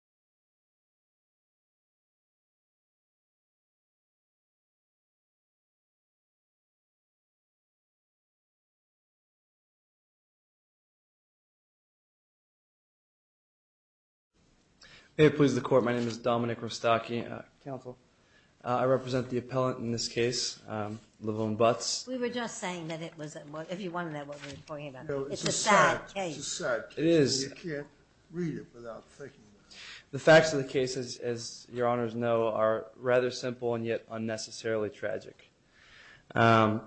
Dominic Rostocki May it please the Court, my name is Dominic Rostocki. Counsel. I represent the appellant in this case, LeVon Butts. We were just saying that it was, if you wanted to know what we were talking about. It's a sad case. It is. You can't read it without thinking about it. The facts of the case, as Your Honors know, are rather simple and yet unnecessarily tragic. My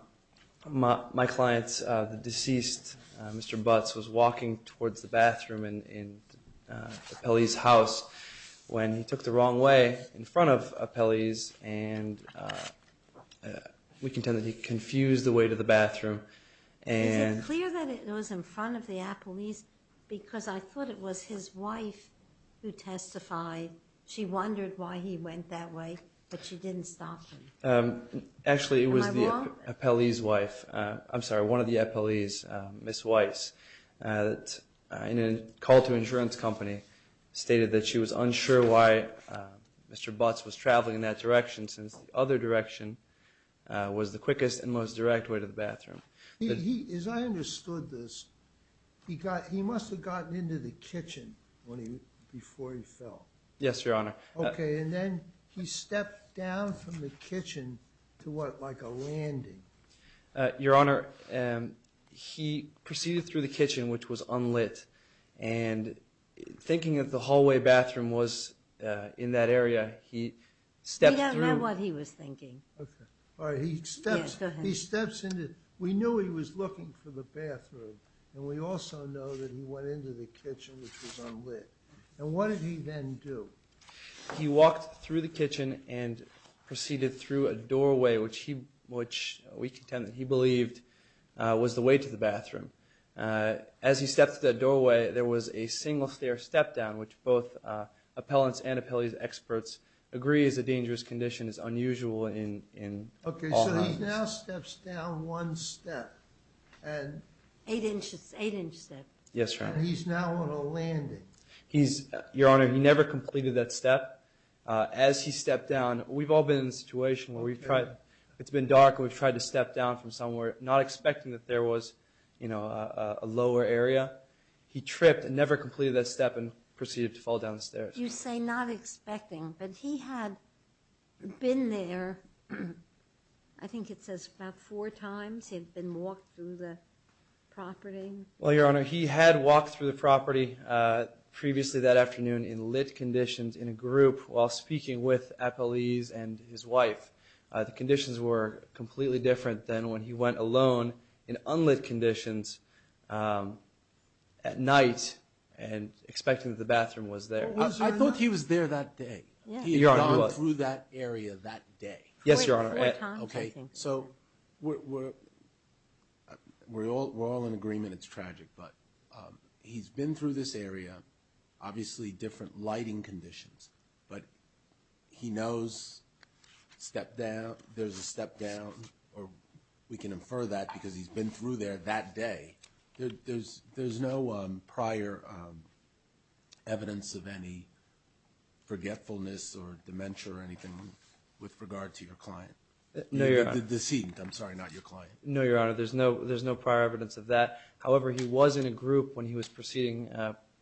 client's, the deceased Mr. Butts, was walking towards the bathroom in Appellee's house when he took the wrong way in front of Appellee's, and we can tell that he confused the way to the bathroom. Is it clear that it was in front of the Appellee's? Because I thought it was his wife who testified. She wondered why he went that way, but she didn't stop him. Actually, it was the Appellee's wife. I'm sorry, one of the Appellee's, Ms. Weiss, in a call to insurance company, stated that she was unsure why Mr. Butts was traveling in that direction since the other direction was the quickest and most direct way to the bathroom. As I understood this, he must have gotten into the kitchen before he fell. Yes, Your Honor. Okay, and then he stepped down from the kitchen to what, like a landing? Your Honor, he proceeded through the kitchen, which was unlit, and thinking that the hallway bathroom was in that area, he stepped through. We don't know what he was thinking. Okay, all right, he steps into, we knew he was looking for the bathroom, and we also know that he went into the kitchen, which was unlit. And what did he then do? He walked through the kitchen and proceeded through a doorway, As he stepped through that doorway, there was a single stair step-down, which both appellants and Appellee's experts agree is a dangerous condition, is unusual in all houses. Okay, so he now steps down one step. Eight-inch step. Yes, Your Honor. And he's now on a landing. Your Honor, he never completed that step. As he stepped down, we've all been in a situation where it's been dark and we've tried to step down from somewhere, not expecting that there was, you know, a lower area. He tripped and never completed that step and proceeded to fall down the stairs. You say not expecting, but he had been there, I think it says about four times, he had been walked through the property. Well, Your Honor, he had walked through the property previously that afternoon in lit conditions in a group while speaking with Appellee's and his wife. The conditions were completely different than when he went alone in unlit conditions at night and expecting that the bathroom was there. I thought he was there that day. He had gone through that area that day. Yes, Your Honor. Okay, so we're all in agreement it's tragic, but he's been through this area, obviously different lighting conditions, but he knows there's a step down, or we can infer that because he's been through there that day. There's no prior evidence of any forgetfulness or dementia or anything with regard to your client. No, Your Honor. The decedent, I'm sorry, not your client. No, Your Honor, there's no prior evidence of that. However, he was in a group when he was proceeding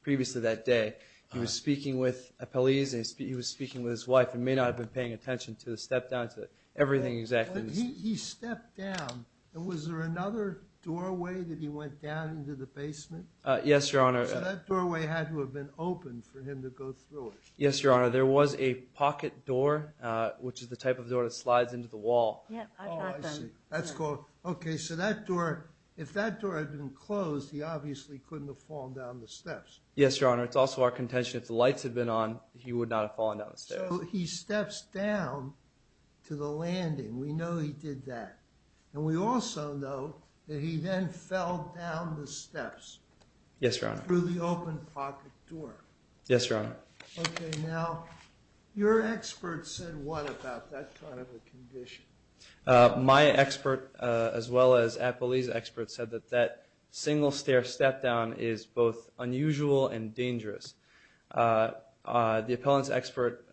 previously that day. He was speaking with Appellee's and he was speaking with his wife and may not have been paying attention to the step down, to everything exactly. He stepped down. Was there another doorway that he went down into the basement? Yes, Your Honor. So that doorway had to have been open for him to go through it. Yes, Your Honor. There was a pocket door, which is the type of door that slides into the wall. Oh, I see. That's cool. Okay, so that door, if that door had been closed, he obviously couldn't have fallen down the steps. Yes, Your Honor. It's also our contention if the lights had been on, he would not have fallen down the steps. So he steps down to the landing. We know he did that. And we also know that he then fell down the steps. Yes, Your Honor. Through the open pocket door. Yes, Your Honor. Okay, now, your expert said what about that kind of a condition? My expert, as well as Appellee's expert, said that that single-stair step-down is both unusual and dangerous. The appellant's expert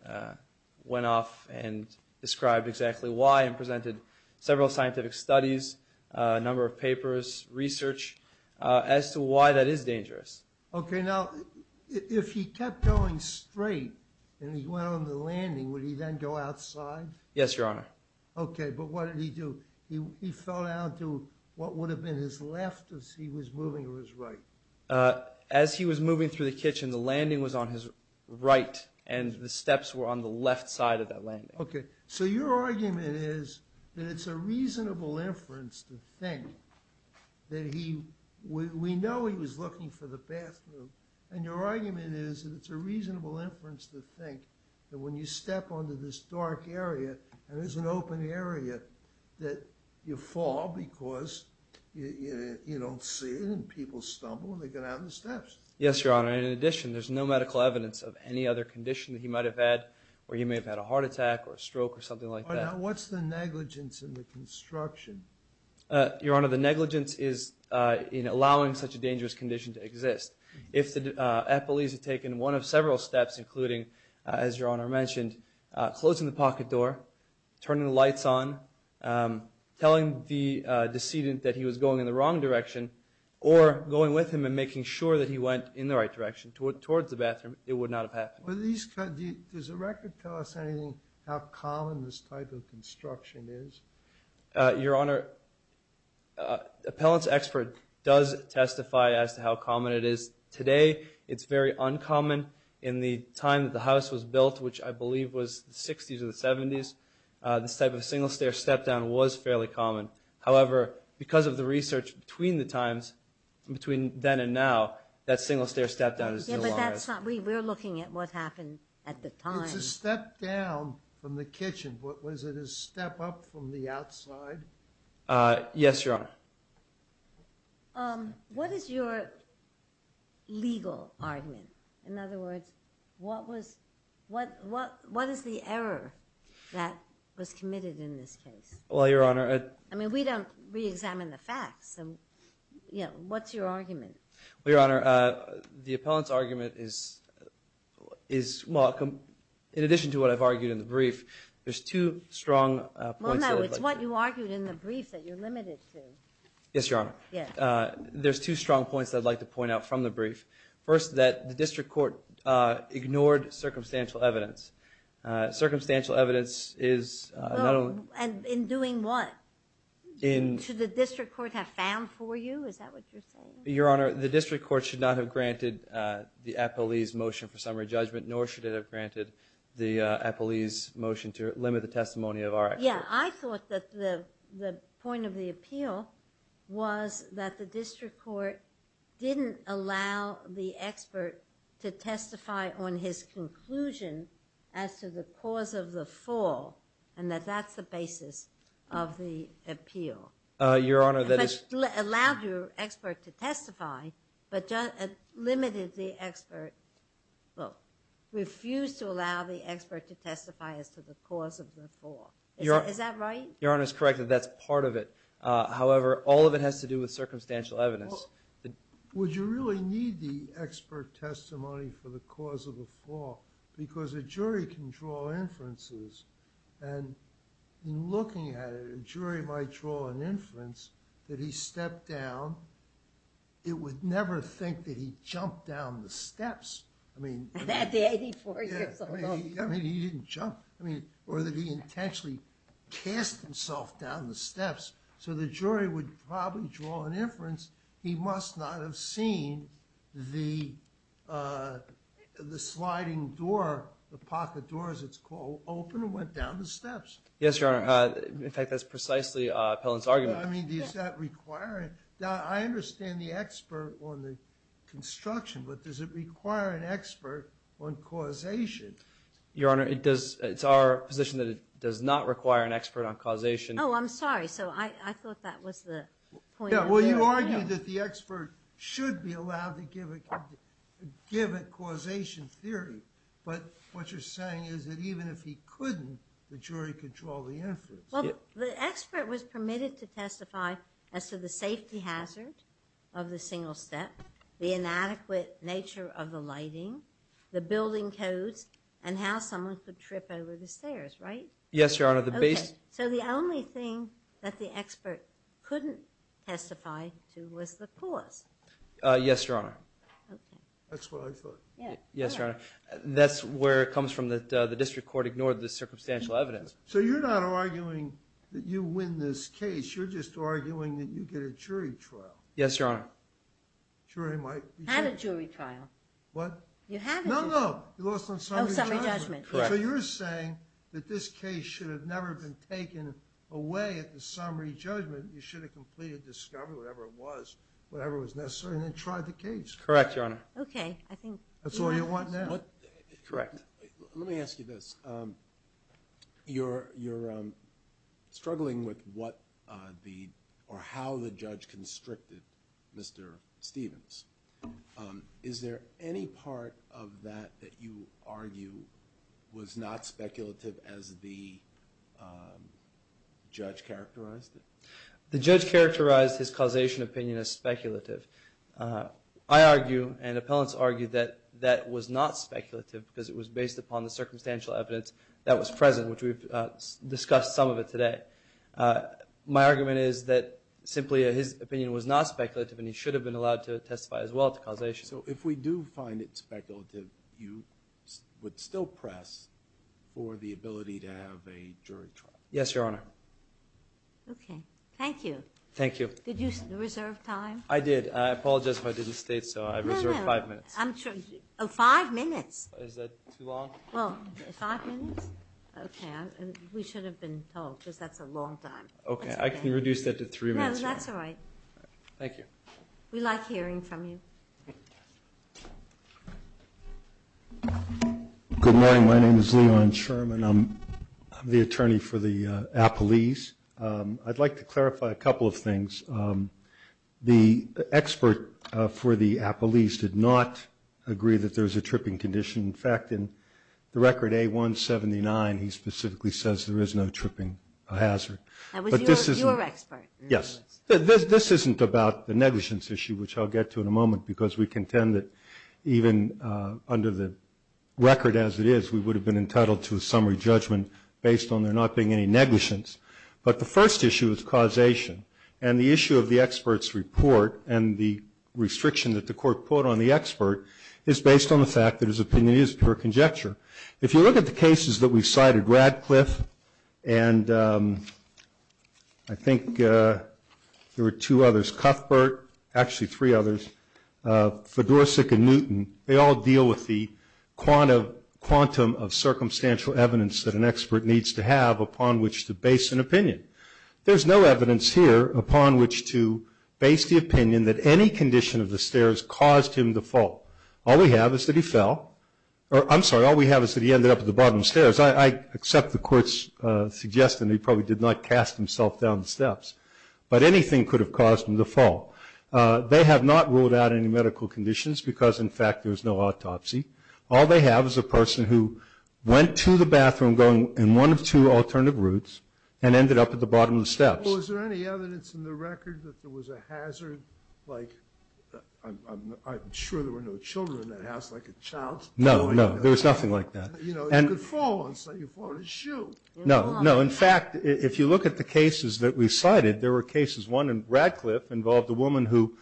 went off and described exactly why and presented several scientific studies, a number of papers, research, as to why that is dangerous. Okay, now, if he kept going straight and he went on the landing, would he then go outside? Yes, Your Honor. Okay, but what did he do? He fell down to what would have been his left as he was moving to his right. As he was moving through the kitchen, the landing was on his right, and the steps were on the left side of that landing. Okay, so your argument is that it's a reasonable inference to think that we know he was looking for the bathroom, and your argument is that it's a reasonable inference to think that when you step onto this dark area, and it's an open area, that you fall because you don't see it and people stumble and they get out of the steps. Yes, Your Honor. In addition, there's no medical evidence of any other condition that he might have had where he may have had a heart attack or a stroke or something like that. Now, what's the negligence in the construction? Your Honor, the negligence is in allowing such a dangerous condition to exist. If the appellees had taken one of several steps, including, as Your Honor mentioned, closing the pocket door, turning the lights on, telling the decedent that he was going in the wrong direction, or going with him and making sure that he went in the right direction towards the bathroom, it would not have happened. Does the record tell us anything how common this type of construction is? Your Honor, appellant's expert does testify as to how common it is. Today, it's very uncommon. In the time that the house was built, which I believe was the 60s or the 70s, this type of single-stair step-down was fairly common. However, because of the research between the times, between then and now, that single-stair step-down is no longer as common. We're looking at what happened at the time. It's a step-down from the kitchen, but was it a step-up from the outside? Yes, Your Honor. What is your legal argument? In other words, what is the error that was committed in this case? Well, Your Honor. I mean, we don't reexamine the facts. What's your argument? Well, Your Honor, the appellant's argument is, well, in addition to what I've argued in the brief, there's two strong points that I'd like to make. It's what you argued in the brief that you're limited to. Yes, Your Honor. Yes. There's two strong points that I'd like to point out from the brief. First, that the district court ignored circumstantial evidence. Circumstantial evidence is not only— Well, and in doing what? Should the district court have found for you? Is that what you're saying? Your Honor, the district court should not have granted the appellee's motion for summary judgment, nor should it have granted the appellee's motion to limit the testimony of our expert. Yeah, I thought that the point of the appeal was that the district court didn't allow the expert to testify on his conclusion as to the cause of the fall, and that that's the basis of the appeal. Your Honor, that is— It allowed your expert to testify, but limited the expert— Is that right? Your Honor is correct that that's part of it. However, all of it has to do with circumstantial evidence. Well, would you really need the expert testimony for the cause of the fall? Because a jury can draw inferences, and in looking at it, a jury might draw an inference that he stepped down. It would never think that he jumped down the steps. At 84 years old. I mean, he didn't jump, or that he intentionally cast himself down the steps. So the jury would probably draw an inference he must not have seen the sliding door, the pocket door, as it's called, open and went down the steps. Yes, Your Honor. In fact, that's precisely Pellin's argument. I mean, does that require it? Now, I understand the expert on the construction, but does it require an expert on causation? Your Honor, it does—it's our position that it does not require an expert on causation. Oh, I'm sorry. So I thought that was the point of the appeal. Yeah, well, you argue that the expert should be allowed to give a causation theory. But what you're saying is that even if he couldn't, the jury could draw the inference. Well, the expert was permitted to testify as to the safety hazard of the single step, the inadequate nature of the lighting, the building codes, and how someone could trip over the stairs, right? Yes, Your Honor. Okay, so the only thing that the expert couldn't testify to was the cause. Yes, Your Honor. Okay. That's what I thought. Yes, Your Honor. That's where it comes from that the district court ignored the circumstantial evidence. So you're not arguing that you win this case. You're just arguing that you get a jury trial. Yes, Your Honor. Jury might— I had a jury trial. What? You haven't. No, no. You lost on summary judgment. Oh, summary judgment. Correct. So you're saying that this case should have never been taken away at the summary judgment. You should have completed discovery, whatever it was, whatever was necessary, and then tried the case. Correct, Your Honor. Okay, I think— That's all you want now. Correct. Let me ask you this. You're struggling with what the—or how the judge constricted Mr. Stevens. Is there any part of that that you argue was not speculative as the judge characterized it? The judge characterized his causation opinion as speculative. I argue and appellants argue that that was not speculative because it was based upon the circumstantial evidence that was present, which we've discussed some of it today. My argument is that simply his opinion was not speculative, and he should have been allowed to testify as well to causation. So if we do find it speculative, you would still press for the ability to have a jury trial? Yes, Your Honor. Okay, thank you. Thank you. Did you reserve time? I did. I apologize if I didn't state, so I reserved five minutes. Oh, five minutes. Is that too long? Well, five minutes? Okay, we should have been told because that's a long time. Okay, I can reduce that to three minutes. No, that's all right. Thank you. We like hearing from you. Good morning. My name is Leon Sherman. I'm the attorney for the appellees. I'd like to clarify a couple of things. The expert for the appellees did not agree that there was a tripping condition. In fact, in the record A-179, he specifically says there is no tripping hazard. That was your expert? Yes. This isn't about the negligence issue, which I'll get to in a moment, because we contend that even under the record as it is, we would have been entitled to a summary judgment based on there not being any negligence. But the first issue is causation. And the issue of the expert's report and the restriction that the court put on the expert is based on the fact that his opinion is pure conjecture. If you look at the cases that we've cited, Radcliffe and I think there were two others, Cuthbert, actually three others, Fedorsik and Newton, they all deal with the quantum of circumstantial evidence that an expert needs to have upon which to base an opinion. There's no evidence here upon which to base the opinion that any condition of the stairs caused him to fall. All we have is that he fell. I'm sorry, all we have is that he ended up at the bottom of the stairs. I accept the court's suggestion that he probably did not cast himself down the steps. But anything could have caused him to fall. They have not ruled out any medical conditions because, in fact, there's no autopsy. All they have is a person who went to the bathroom going in one of two alternative routes and ended up at the bottom of the steps. Well, is there any evidence in the record that there was a hazard, like, I'm sure there were no children in that house, like a child. No, no, there was nothing like that. You know, you could fall on a shoe. No, no. In fact, if you look at the cases that we cited, there were cases. One in Radcliffe involved a woman who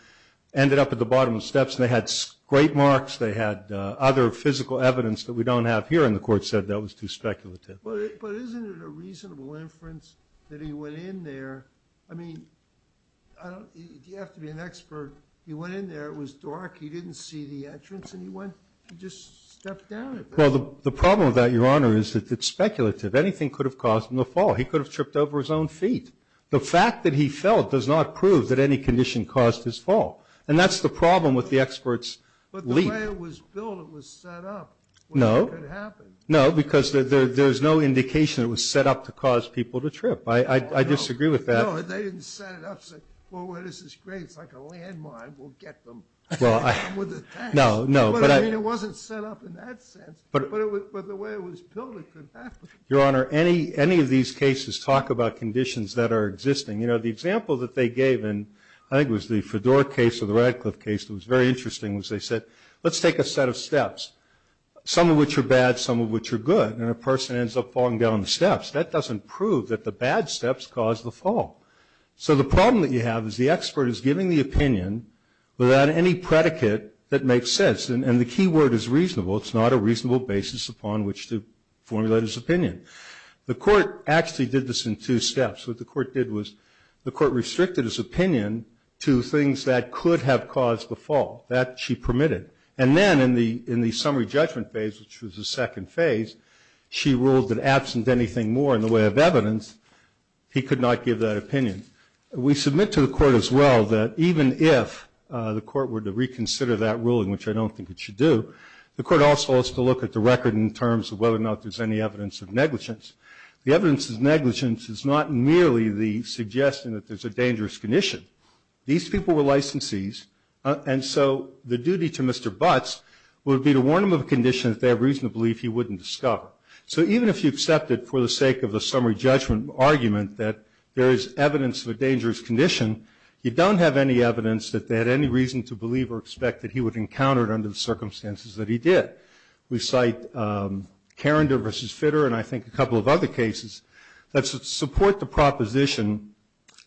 ended up at the bottom of the steps, and they had great marks. They had other physical evidence that we don't have here, and the court said that was too speculative. But isn't it a reasonable inference that he went in there? I mean, you have to be an expert. He went in there. It was dark. He didn't see the entrance. And he just stepped down. Well, the problem with that, Your Honor, is that it's speculative. Anything could have caused him to fall. He could have tripped over his own feet. The fact that he fell does not prove that any condition caused his fall, and that's the problem with the expert's lead. But the way it was built, it was set up. No. It could happen. No, because there's no indication it was set up to cause people to trip. I disagree with that. No, they didn't set it up, say, well, this is great. It's like a landmine. We'll get them with a tax. No, no. But, I mean, it wasn't set up in that sense. But the way it was built, it could happen. Your Honor, any of these cases talk about conditions that are existing. You know, the example that they gave in, I think it was the Fedor case or the Radcliffe case, it was very interesting, was they said, let's take a set of steps, some of which are bad, some of which are good, and a person ends up falling down the steps. That doesn't prove that the bad steps caused the fall. So the problem that you have is the expert is giving the opinion without any predicate that makes sense. And the key word is reasonable. It's not a reasonable basis upon which to formulate his opinion. The court actually did this in two steps. What the court did was the court restricted his opinion to things that could have caused the fall. That she permitted. And then in the summary judgment phase, which was the second phase, she ruled that absent anything more in the way of evidence, he could not give that opinion. We submit to the court as well that even if the court were to reconsider that ruling, which I don't think it should do, the court also has to look at the record in terms of whether or not there's any evidence of negligence. The evidence of negligence is not merely the suggestion that there's a dangerous condition. These people were licensees, and so the duty to Mr. Butts would be to warn him of a condition that they have reason to believe he wouldn't discover. So even if you accept it for the sake of the summary judgment argument that there is evidence of a dangerous condition, you don't have any evidence that they had any reason to believe or expect that he would encounter it under the circumstances that he did. We cite Carinder v. Fitter and I think a couple of other cases that support the proposition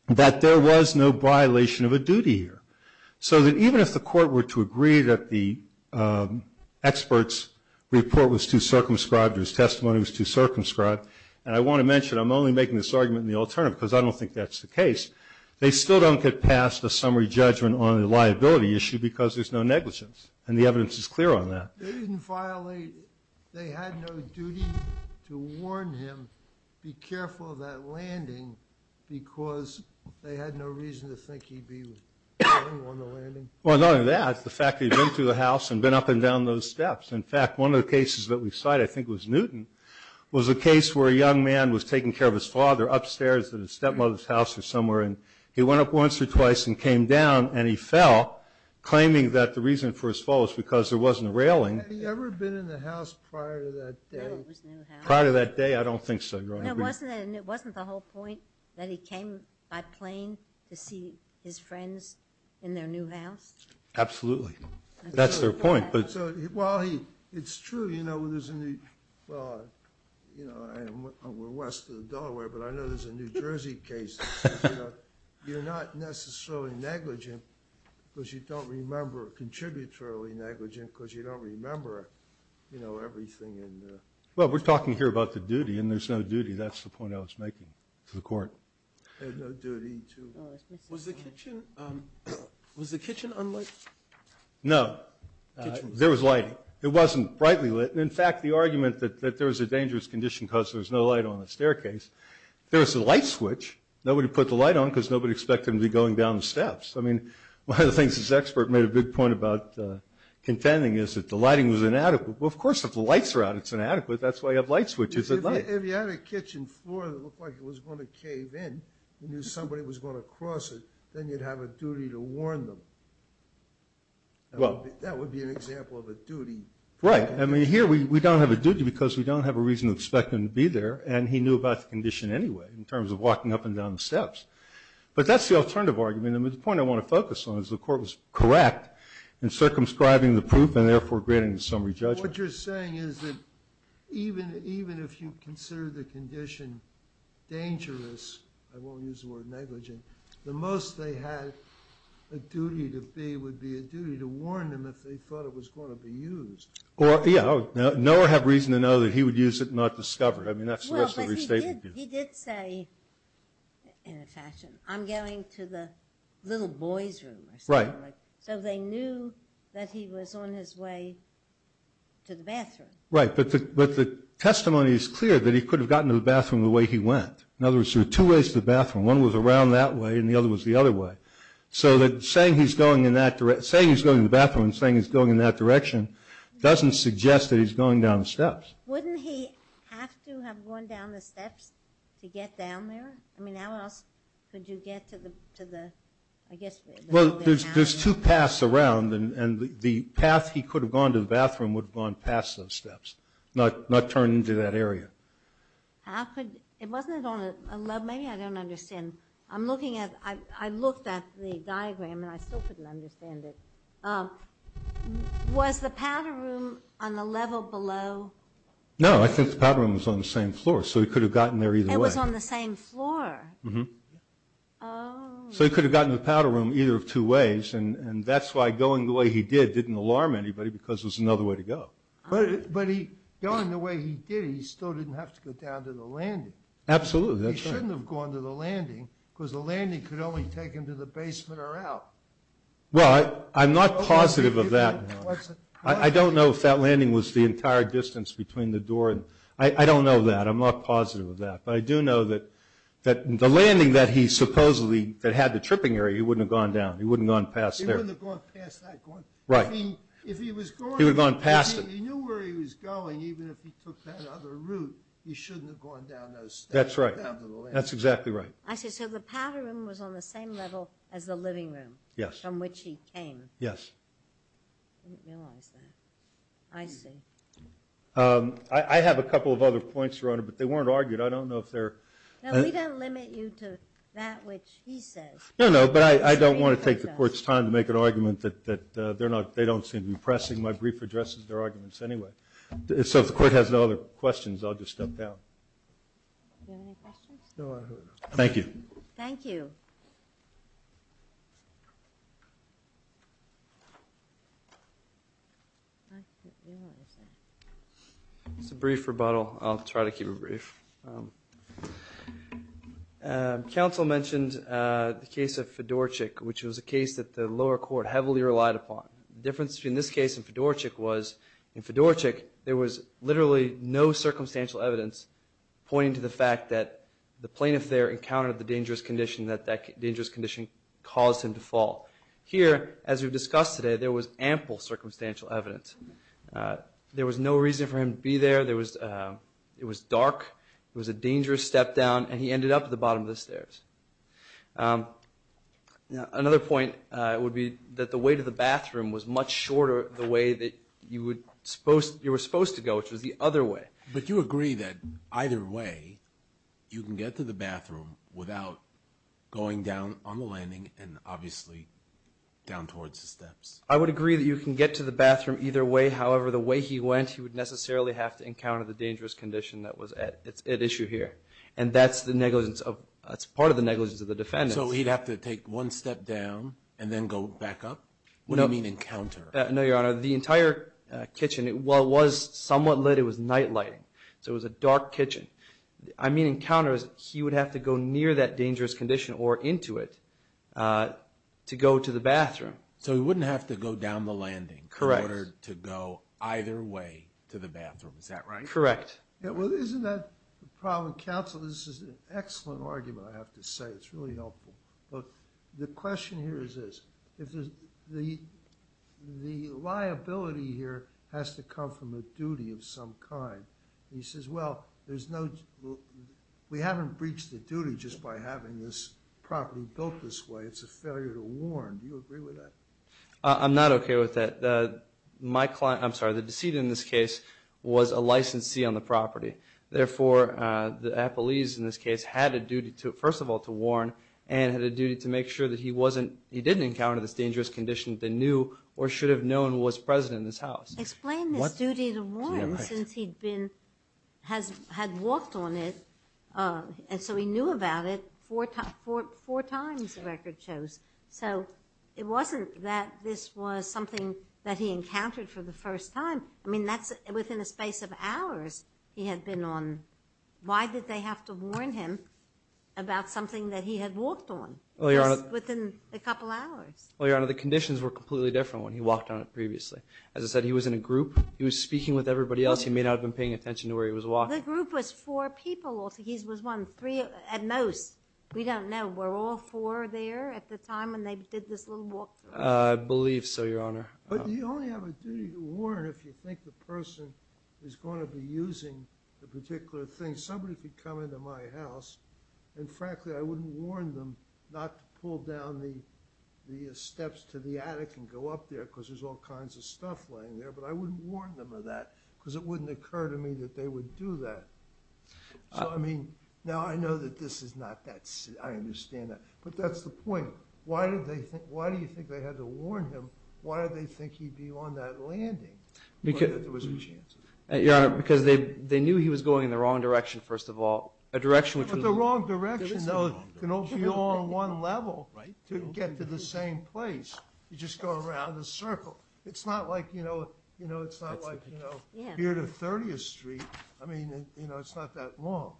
that there was no violation of a duty here. So that even if the court were to agree that the expert's report was too circumscribed or his testimony was too circumscribed, and I want to mention I'm only making this argument in the alternative because I don't think that's the case, they still don't get past the summary judgment on the liability issue because there's no negligence. And the evidence is clear on that. They didn't violate, they had no duty to warn him, be careful of that landing because they had no reason to think he'd be on the landing? Well, not only that, the fact that he'd been through the house and been up and down those steps. In fact, one of the cases that we cite, I think it was Newton, was a case where a young man was taking care of his father upstairs at his stepmother's house or somewhere and he went up once or twice and came down and he fell claiming that the reason for his fall was because there wasn't a railing. Had he ever been in the house prior to that day? Prior to that day? I don't think so, Your Honor. It wasn't the whole point that he came by plane to see his friends in their new house? Absolutely. That's their point. It's true, you know, we're west of Delaware, but I know there's a New Jersey case. You're not necessarily negligent because you don't remember, contributory negligent because you don't remember everything. Well, we're talking here about the duty and there's no duty. That's the point I was making to the Court. Had no duty to. Was the kitchen unlit? No. There was lighting. It wasn't brightly lit. In fact, the argument that there was a dangerous condition because there was no light on the staircase, there was a light switch. Nobody put the light on because nobody expected him to be going down the steps. I mean, one of the things this expert made a big point about contending is that the lighting was inadequate. Well, of course, if the lights are out, it's inadequate. That's why you have light switches at night. If you had a kitchen floor that looked like it was going to cave in, you knew somebody was going to cross it, then you'd have a duty to warn them. That would be an example of a duty. Right. I mean, here we don't have a duty because we don't have a reason to expect him to be there, and he knew about the condition anyway in terms of walking up and down the steps. But that's the alternative argument. The point I want to focus on is the Court was correct in circumscribing the proof and therefore granting the summary judgment. What you're saying is that even if you consider the condition dangerous, I won't use the word negligent, the most they had a duty to be would be a duty to warn them if they thought it was going to be used. Yeah. Nowhere have reason to know that he would use it and not discover it. I mean, that's the rest of the restatement. Well, but he did say in a fashion, I'm going to the little boy's room or something like that. So they knew that he was on his way to the bathroom. Right. But the testimony is clear that he could have gotten to the bathroom the way he went. In other words, there were two ways to the bathroom. One was around that way and the other was the other way. So that saying he's going in that direction, saying he's going to the bathroom and saying he's going in that direction doesn't suggest that he's going down the steps. Wouldn't he have to have gone down the steps to get down there? I mean, how else could you get to the, I guess, the holding house? There's two paths around, and the path he could have gone to the bathroom would have gone past those steps, not turned into that area. How could, it wasn't on a level, maybe I don't understand. I'm looking at, I looked at the diagram and I still couldn't understand it. Was the powder room on the level below? No, I think the powder room was on the same floor, so he could have gotten there either way. It was on the same floor? Mm-hmm. Oh. So he could have gotten to the powder room either of two ways, and that's why going the way he did didn't alarm anybody because it was another way to go. But going the way he did, he still didn't have to go down to the landing. Absolutely. He shouldn't have gone to the landing because the landing could only take him to the basement or out. Well, I'm not positive of that. I don't know if that landing was the entire distance between the door. I don't know that. I'm not positive of that. But I do know that the landing that he supposedly, that had the tripping area, he wouldn't have gone down. He wouldn't have gone past there. He wouldn't have gone past that. Right. I mean, if he was going. He would have gone past it. If he knew where he was going, even if he took that other route, he shouldn't have gone down those steps. That's right. That's exactly right. I see. So the powder room was on the same level as the living room. Yes. From which he came. Yes. I didn't realize that. I see. I have a couple of other points, Your Honor, but they weren't argued. I don't know if they're. No, we don't limit you to that which he says. No, no, but I don't want to take the Court's time to make an argument that they don't seem to be pressing. My brief addresses their arguments anyway. So if the Court has no other questions, I'll just step down. Do you have any questions? No, I don't. Thank you. Thank you. It's a brief rebuttal. I'll try to keep it brief. Counsel mentioned the case of Fedorchik, which was a case that the lower court heavily relied upon. The difference between this case and Fedorchik was, in Fedorchik, there was literally no circumstantial evidence pointing to the fact that the plaintiff there encountered the dangerous condition that that dangerous condition caused him to fall. Here, as we've discussed today, there was ample circumstantial evidence. There was no reason for him to be there. It was dark. It was a dangerous step down, and he ended up at the bottom of the stairs. Another point would be that the way to the bathroom was much shorter the way that you were supposed to go, which was the other way. But you agree that either way you can get to the bathroom without going down on the landing and obviously down towards the steps? I would agree that you can get to the bathroom either way. However, the way he went, he would necessarily have to encounter the dangerous condition that was at issue here. And that's part of the negligence of the defendant. So he'd have to take one step down and then go back up? What do you mean encounter? No, Your Honor. The entire kitchen, while it was somewhat lit, it was night lighting. So it was a dark kitchen. I mean encounter is he would have to go near that dangerous condition or into it to go to the bathroom. So he wouldn't have to go down the landing in order to go either way to the bathroom. Is that right? Correct. Well, isn't that the problem? Counsel, this is an excellent argument, I have to say. It's really helpful. But the question here is this. The liability here has to come from a duty of some kind. He says, well, we haven't breached the duty just by having this property built this way. It's a failure to warn. Do you agree with that? I'm not okay with that. I'm sorry, the decedent in this case was a licensee on the property. Therefore, the appellees in this case had a duty, first of all, to warn and had a duty to make sure that he didn't encounter this dangerous condition that they knew or should have known was present in this house. Explain this duty to warn since he had walked on it and so he knew about it four times the record shows. So it wasn't that this was something that he encountered for the first time. I mean, that's within a space of hours he had been on. Why did they have to warn him about something that he had walked on just within a couple hours? Well, Your Honor, the conditions were completely different when he walked on it previously. As I said, he was in a group. He was speaking with everybody else. He may not have been paying attention to where he was walking. The group was four people. He was one, three at most. We don't know. Were all four there at the time when they did this little walkthrough? I believe so, Your Honor. But you only have a duty to warn if you think the person is going to be using the particular thing. Somebody could come into my house, and frankly I wouldn't warn them not to pull down the steps to the attic and go up there because there's all kinds of stuff laying there, but I wouldn't warn them of that because it wouldn't occur to me that they would do that. So, I mean, now I know that this is not that simple. I understand that. But that's the point. Why do you think they had to warn him? Why did they think he'd be on that landing? Because there was a chance. Your Honor, because they knew he was going in the wrong direction, first of all. But the wrong direction, though, can only be on one level to get to the same place. You just go around in a circle. It's not like, you know, it's not like, you know, it's not that long.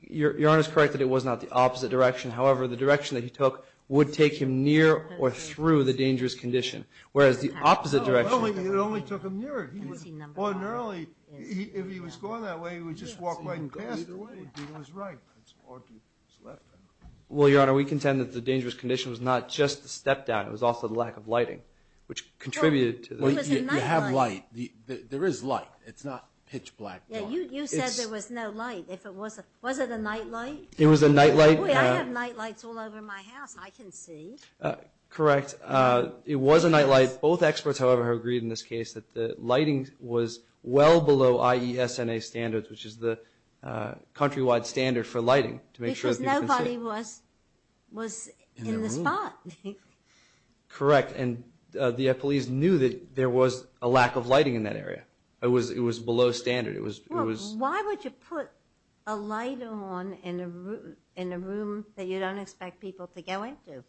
Your Honor is correct that it was not the opposite direction. However, the direction that he took would take him near or through the dangerous condition. Whereas the opposite direction... It only took him near it. Ordinarily, if he was going that way, he would just walk right past it. He was right. Well, Your Honor, we contend that the dangerous condition was not just the step down. It was also the lack of lighting, which contributed to... You have light. There is light. It's not pitch black. You said there was no light. Was it a nightlight? It was a nightlight. I have nightlights all over my house. I can see. Correct. It was a nightlight. Both experts, however, have agreed in this case that the lighting was well below IESNA standards, which is the countrywide standard for lighting. Because nobody was in the spot. Correct. And the police knew that there was a lack of lighting in that area. It was below standard. Why would you put a light on in a room that you don't expect people to go into?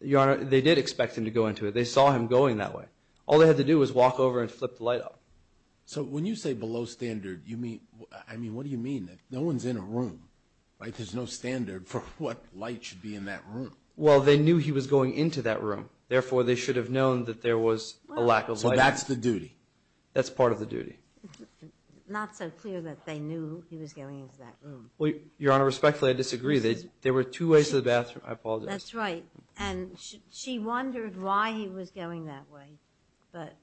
Your Honor, they did expect him to go into it. They saw him going that way. All they had to do was walk over and flip the light up. So when you say below standard, what do you mean? No one's in a room. There's no standard for what light should be in that room. Well, they knew he was going into that room. Therefore, they should have known that there was a lack of lighting. So that's the duty. That's part of the duty. Not so clear that they knew he was going into that room. Your Honor, respectfully, I disagree. There were two ways to the bathroom. I apologize. That's right. And she wondered why he was going that way. But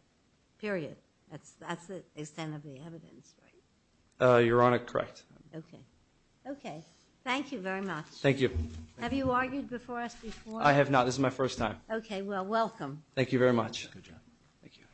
period. That's the extent of the evidence, right? Your Honor, correct. Okay. Okay. Thank you very much. Thank you. Have you argued before us before? I have not. This is my first time. Okay. Well, welcome. Thank you very much. Good job. Thank you.